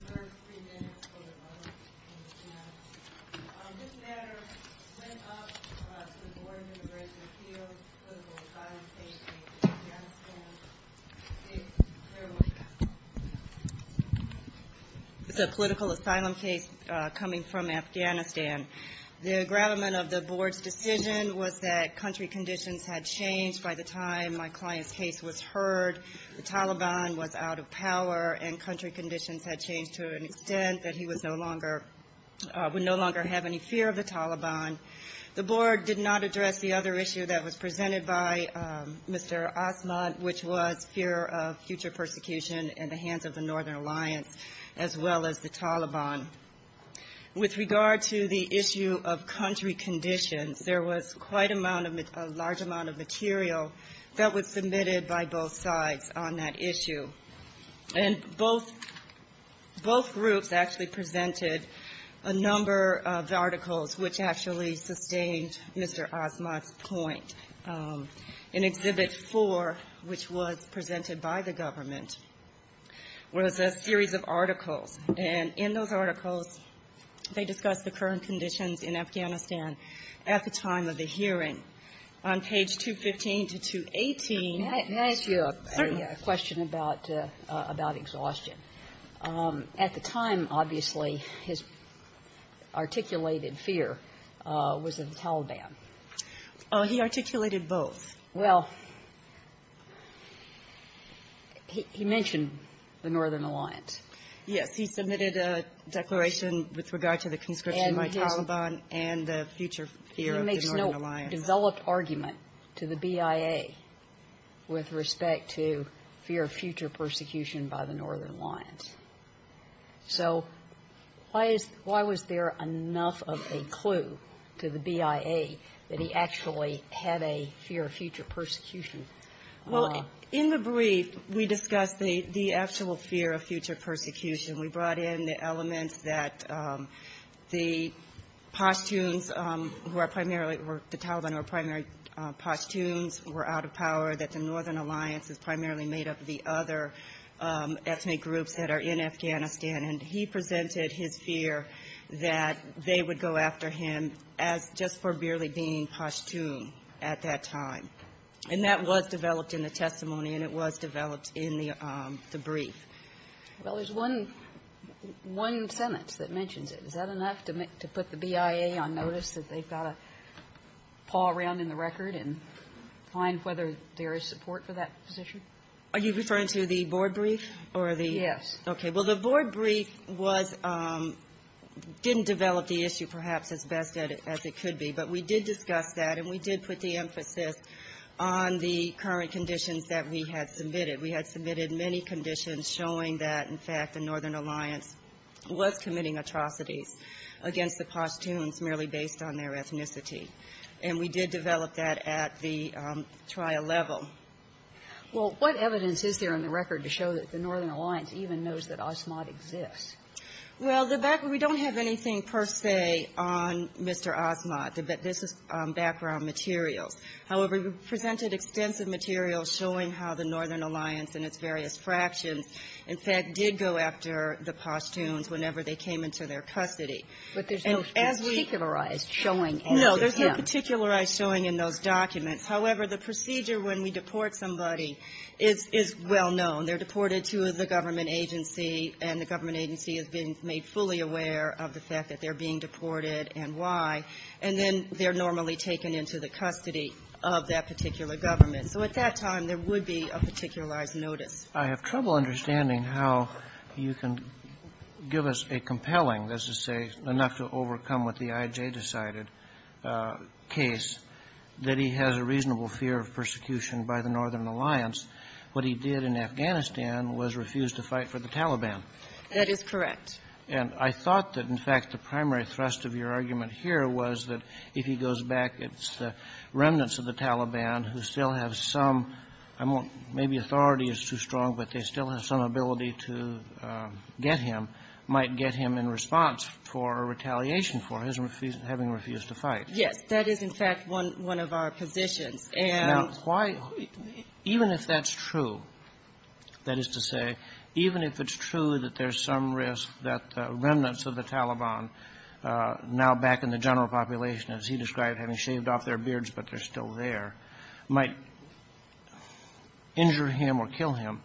This matter went up to the Board of Immigration Appeals, Political Asylum case in Afghanistan. It's a political asylum case coming from Afghanistan. The aggravement of the Board's decision was that country conditions had changed by the time my client's case was heard. The Taliban was out of power and country conditions had changed to an extent that he would no longer have any fear of the Taliban. The Board did not address the other issue that was presented by Mr. Asmat, which was fear of future persecution in the hands of the Northern Alliance as well as the Taliban. With regard to the issue of country conditions, there was quite a large amount of material that was submitted by both sides on that issue. And both groups actually presented a number of articles which actually sustained Mr. Asmat's point. In Exhibit 4, which was presented by the government, was a series of articles. And in those articles, they discussed the current conditions in Afghanistan at the time of the hearing. On page 215 to 218 ---- Kagan. Can I ask you a question about exhaustion? At the time, obviously, his articulated fear was of the Taliban. He articulated both. Well, he mentioned the Northern Alliance. Yes, he submitted a declaration with regard to the conscription by the Taliban and the future fear of the Northern Alliance. He makes no developed argument to the BIA with respect to fear of future persecution by the Northern Alliance. So why is ---- why was there enough of a clue to the BIA that he actually had a fear of future persecution? Well, in the brief, we discussed the actual fear of future persecution. We brought in the elements that the Pashtuns, who are primarily the Taliban, who are primary Pashtuns, were out of power, that the Northern Alliance is primarily made up of the other ethnic groups that are in Afghanistan. And he presented his fear that they would go after him as just for merely being Pashtun at that time. And that was developed in the testimony, and it was developed in the brief. Well, there's one sentence that mentions it. Is that enough to put the BIA on notice that they've got to paw around in the record and find whether there is support for that position? Are you referring to the board brief or the ---- Yes. Okay. Well, the board brief was ---- didn't develop the issue perhaps as best as it could be. But we did discuss that, and we did put the emphasis on the current conditions that we had submitted. We had submitted many conditions showing that, in fact, the Northern Alliance was committing atrocities against the Pashtuns merely based on their ethnicity. And we did develop that at the trial level. Well, what evidence is there in the record to show that the Northern Alliance even knows that Asmat exists? Well, the background ---- we don't have anything per se on Mr. Asmat. This is background materials. However, we presented extensive material showing how the Northern Alliance and its various fractions, in fact, did go after the Pashtuns whenever they came into their custody. And as we ---- But there's no particularized showing as to him. No. There's no particularized showing in those documents. However, the procedure when we deport somebody is well known. They're deported to the government agency, and the government agency is being made fully aware of the fact that they're being deported and why. And then they're normally taken into the custody of that particular government. So at that time, there would be a particularized notice. I have trouble understanding how you can give us a compelling, that is to say, enough to overcome what the I.J. decided case, that he has a reasonable fear of persecution by the Northern Alliance. What he did in Afghanistan was refuse to fight for the Taliban. That is correct. And I thought that, in fact, the primary thrust of your argument here was that if he goes back, it's the remnants of the Taliban who still have some ---- I won't ---- maybe authority is too strong, but they still have some ability to get him, might get him in response for retaliation for his having refused to fight. Yes. That is, in fact, one of our positions. And ---- Now, why ---- even if that's true, that is to say, even if it's true that there's some risk that remnants of the Taliban now back in the general population, as he described, having shaved off their beards but they're still there, might injure him or kill him,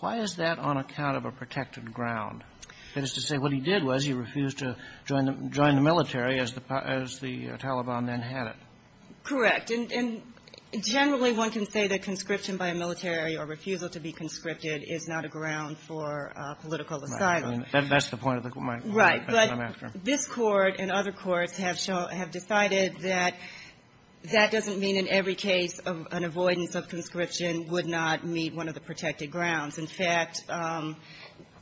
why is that on account of a protected ground? That is to say, what he did was he refused to join the military as the Taliban then had it. Correct. And generally, one can say that conscription by a military or refusal to be conscripted is not a ground for political asylum. That's the point of my question. Right. But this Court and other courts have decided that that doesn't mean in every case an avoidance of conscription would not meet one of the protected grounds. In fact,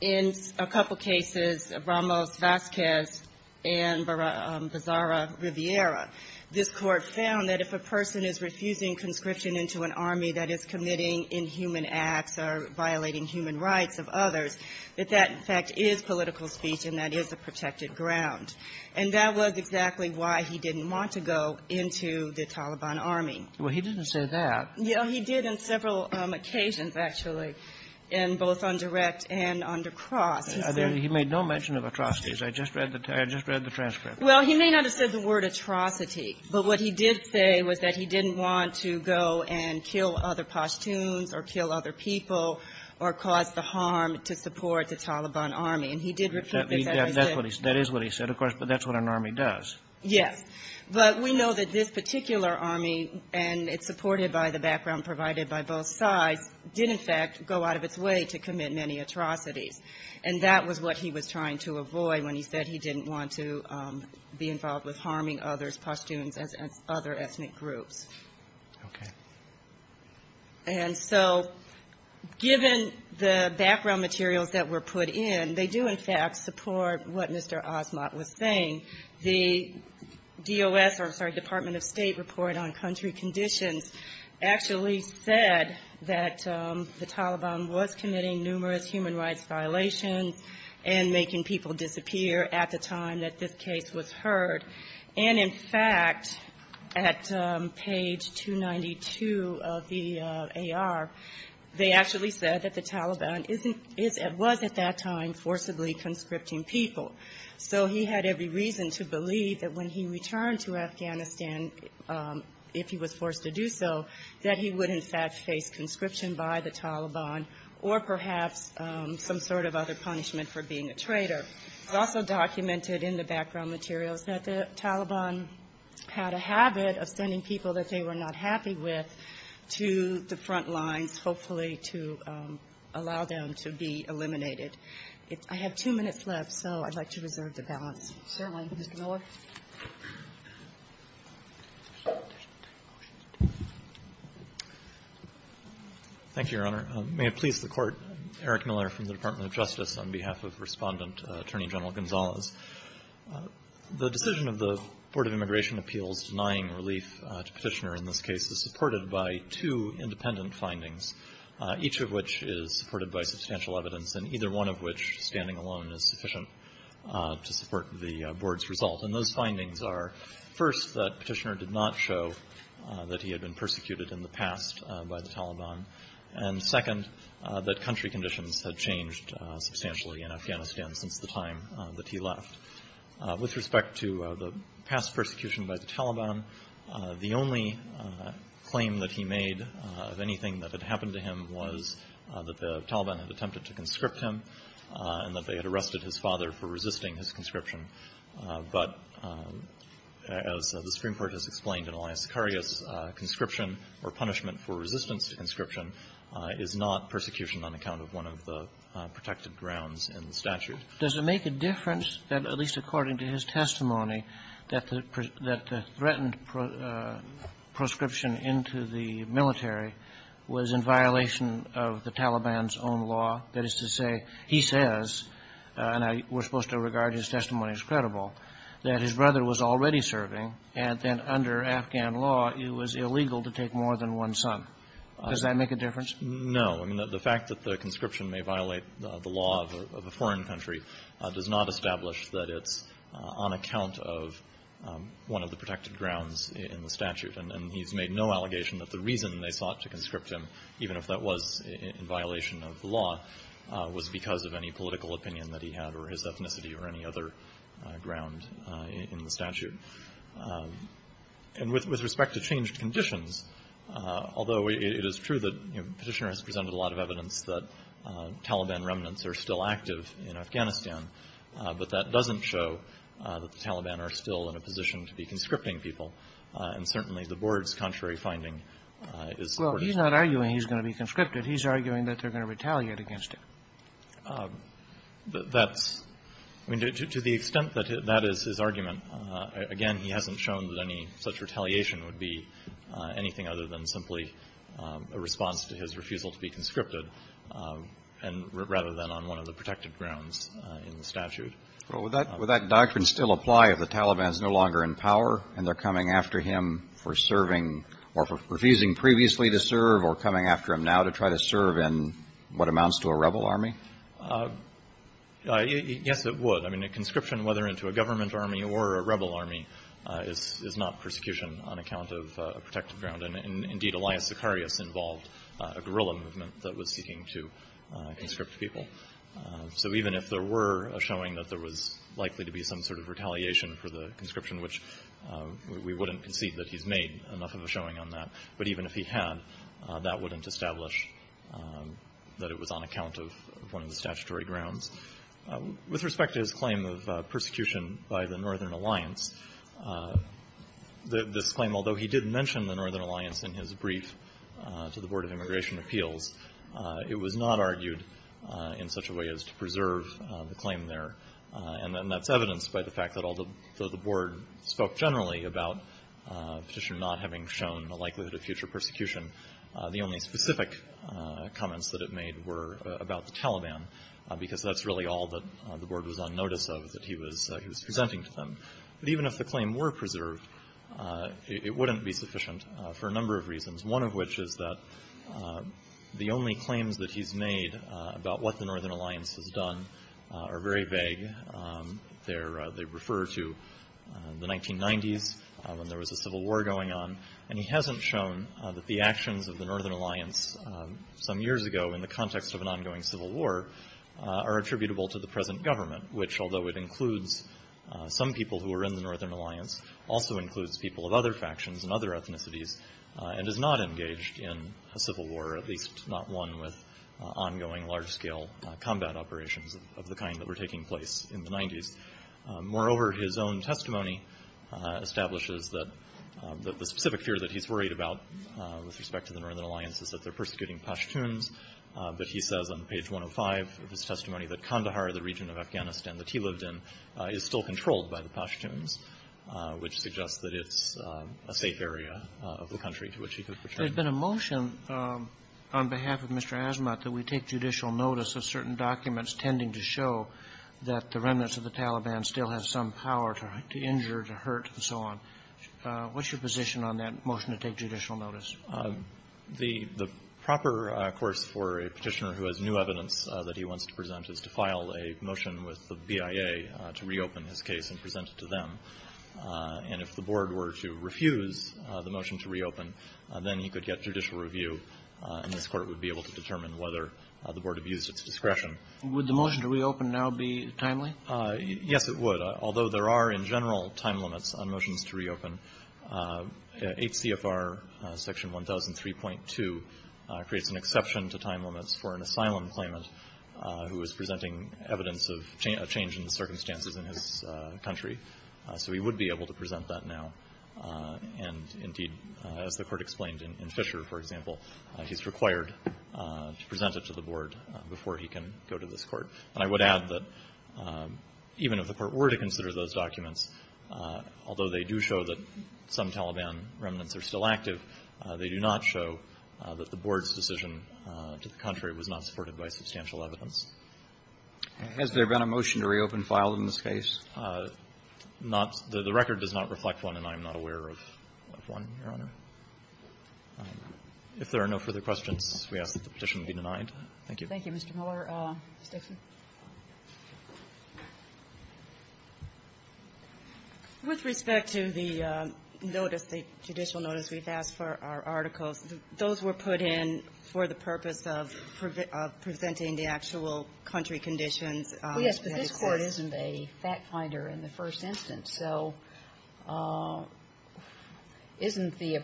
in a couple cases, Ramos-Vazquez and Bizarra-Rivera, this Court found that if a person is refusing conscription into an army that is committing inhuman acts or violating human rights of others, that that, in fact, is political speech and that is a protected ground. And that was exactly why he didn't want to go into the Taliban army. Well, he didn't say that. He did on several occasions, actually, in both on direct and under cross. He made no mention of atrocities. I just read the transcript. Well, he may not have said the word atrocity, but what he did say was that he didn't want to go and kill other Pashtuns or kill other people or cause the harm to support the Taliban army. And he did repeat that he did. That is what he said, of course, but that's what an army does. Yes. But we know that this particular army, and it's supported by the background provided by both sides, did, in fact, go out of its way to commit many atrocities. And that was what he was trying to avoid when he said he didn't want to be involved with harming other Pashtuns and other ethnic groups. Okay. And so given the background materials that were put in, they do, in fact, support what Mr. Asmat was saying. The DOS or, I'm sorry, Department of State report on country conditions actually said that the Taliban was committing numerous human rights violations and making people And, in fact, at page 292 of the AR, they actually said that the Taliban was, at that time, forcibly conscripting people. So he had every reason to believe that when he returned to Afghanistan, if he was forced to do so, that he would, in fact, face conscription by the Taliban or perhaps some sort of other punishment for being a traitor. It's also documented in the background materials that the Taliban had a habit of sending people that they were not happy with to the front lines, hopefully to allow them to be eliminated. I have two minutes left, so I'd like to reserve the balance. Certainly. Mr. Miller? Thank you, Your Honor. May it please the Court, Eric Miller from the Department of Justice on behalf of Respondent Attorney General Gonzalez. The decision of the Board of Immigration Appeals denying relief to Petitioner in this case is supported by two independent findings, each of which is supported by substantial evidence, and either one of which, standing alone, is sufficient to support the Board's result. And those findings are, first, that Petitioner did not show that he had been substantially in Afghanistan since the time that he left. With respect to the past persecution by the Taliban, the only claim that he made of anything that had happened to him was that the Taliban had attempted to conscript him and that they had arrested his father for resisting his conscription. But as the Supreme Court has explained in Elias Sicarius, conscription or punishment for resistance to conscription is not subject to persecution on account of one of the protected grounds in the statute. Does it make a difference that, at least according to his testimony, that the threatened proscription into the military was in violation of the Taliban's own law? That is to say, he says, and we're supposed to regard his testimony as credible, that his brother was already serving, and then under Afghan law, it was illegal to take more than one son. Does that make a difference? No. I mean, the fact that the conscription may violate the law of a foreign country does not establish that it's on account of one of the protected grounds in the statute. And he's made no allegation that the reason they sought to conscript him, even if that was in violation of the law, was because of any political opinion that he had or his ethnicity or any other ground in the statute. And with respect to changed conditions, although it is true that, you know, Petitioner has presented a lot of evidence that Taliban remnants are still active in Afghanistan, but that doesn't show that the Taliban are still in a position to be conscripting people. And certainly, the Board's contrary finding is important. Well, he's not arguing he's going to be conscripted. He's arguing that they're going to retaliate against him. That's – I mean, to the extent that that is his argument, again, he hasn't shown that any such retaliation would be anything other than simply a response to his refusal to be conscripted, rather than on one of the protected grounds in the statute. Well, would that doctrine still apply if the Taliban is no longer in power and they're coming after him for serving or for refusing previously to serve or coming after him now to try to serve in what amounts to a rebel army? Yes, it would. I mean, a conscription, whether into a government army or a rebel army, is not persecution on account of a protected ground. And indeed, Elias Sicarius involved a guerrilla movement that was seeking to conscript people. So even if there were a showing that there was likely to be some sort of retaliation for the conscription, which we wouldn't concede that he's made enough of a showing on that, but even if he had, that wouldn't establish that it was on account of one of the statutory grounds. With respect to his claim of persecution by the Northern Alliance, this claim, although he did mention the Northern Alliance in his brief to the Board of Immigration Appeals, it was not argued in such a way as to preserve the claim there. And that's evidenced by the fact that although the Board spoke generally about Petitioner not having shown a likelihood of future persecution, the only specific comments that it made were about the Taliban, because that's really all that the Board was on notice of that he was presenting to them. But even if the claim were preserved, it wouldn't be sufficient for a number of reasons, one of which is that the only claims that he's made about what the Northern Alliance has done are very vague. They refer to the 1990s when there was a civil war going on, and he hasn't shown that the actions of the Northern Alliance some years ago in the context of an ongoing civil war are attributable to the present government, which although it includes some people who were in the Northern Alliance, also includes people of other factions and other ethnicities, and is not engaged in a civil war, at least not one with ongoing large-scale combat operations of the kind that were The specific fear that he's worried about with respect to the Northern Alliance is that they're persecuting Pashtuns, but he says on page 105 of his testimony that Kandahar, the region of Afghanistan that he lived in, is still controlled by the Pashtuns, which suggests that it's a safe area of the country to which he could protect. There's been a motion on behalf of Mr. Asmat that we take judicial notice of certain The proper course for a Petitioner who has new evidence that he wants to present is to file a motion with the BIA to reopen his case and present it to them, and if the Board were to refuse the motion to reopen, then he could get judicial review, and this Court would be able to determine whether the Board abused its discretion. Would the motion to reopen now be timely? Yes, it would. Although there are, in general, time limits on motions to reopen, HCFR Section 1003.2 creates an exception to time limits for an asylum claimant who is presenting evidence of change in the circumstances in his country, so he would be able to present that now, and indeed, as the Court explained in Fisher, for example, he's required to present it to the Board before he can go to this Court. And I would add that even if the Court were to consider those documents, although they do show that some Taliban remnants are still active, they do not show that the Board's decision to the contrary was not supported by substantial evidence. Has there been a motion to reopen filed in this case? Not the record does not reflect one, and I'm not aware of one, Your Honor. If there are no further questions, we ask that the petition be denied. Thank you. Thank you, Mr. Miller. Ms. Dixon. With respect to the notice, the judicial notice we've asked for our articles, those were put in for the purpose of presenting the actual country conditions in this case. Well, yes, but this Court isn't a fact finder in the first instance, so isn't the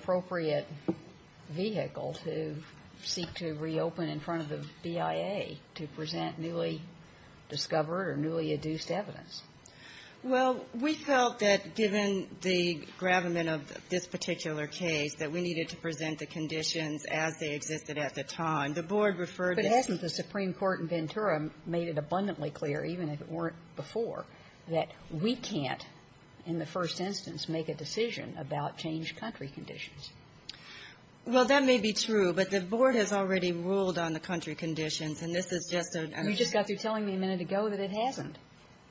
newly discovered or newly adduced evidence? Well, we felt that given the gravamen of this particular case, that we needed to present the conditions as they existed at the time. The Board referred to the ---- But hasn't the Supreme Court in Ventura made it abundantly clear, even if it weren't before, that we can't, in the first instance, make a decision about changed country conditions? Well, that may be true, but the Board has already ruled on the country conditions, and this is just a ---- You just got through telling me a minute ago that it hasn't.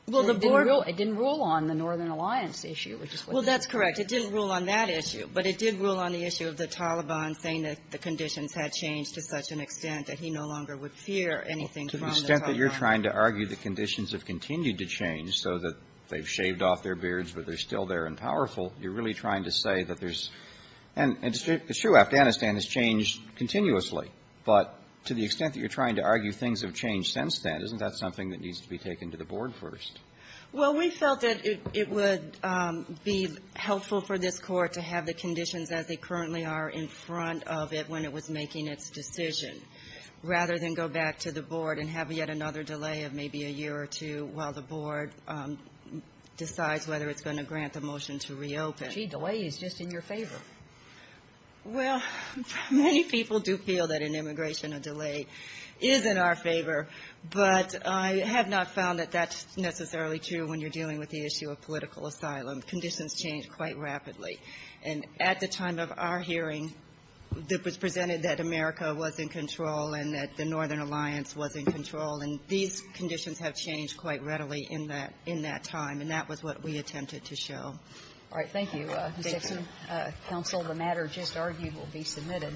Well, the Board ---- It didn't rule on the Northern Alliance issue, which is what ---- Well, that's correct. It didn't rule on that issue, but it did rule on the issue of the Taliban saying that the conditions had changed to such an extent that he no longer would fear anything from the Taliban. Well, to the extent that you're trying to argue the conditions have continued to change so that they've shaved off their beards, but they're still there and powerful, you're really trying to say that there's ---- And it's true, Afghanistan has changed continuously. But to the extent that you're trying to argue things have changed since then, isn't that something that needs to be taken to the Board first? Well, we felt that it would be helpful for this Court to have the conditions as they currently are in front of it when it was making its decision, rather than go back to the Board and have yet another delay of maybe a year or two while the Board decides whether it's going to grant the motion to reopen. Gee, delay is just in your favor. Well, many people do feel that an immigration delay is in our favor. But I have not found that that's necessarily true when you're dealing with the issue of political asylum. Conditions change quite rapidly. And at the time of our hearing, it was presented that America was in control and that the Northern Alliance was in control. And these conditions have changed quite readily in that time. And that was what we attempted to show. All right. Thank you, Mr. Hickson. Counsel, the matter just argued will be submitted.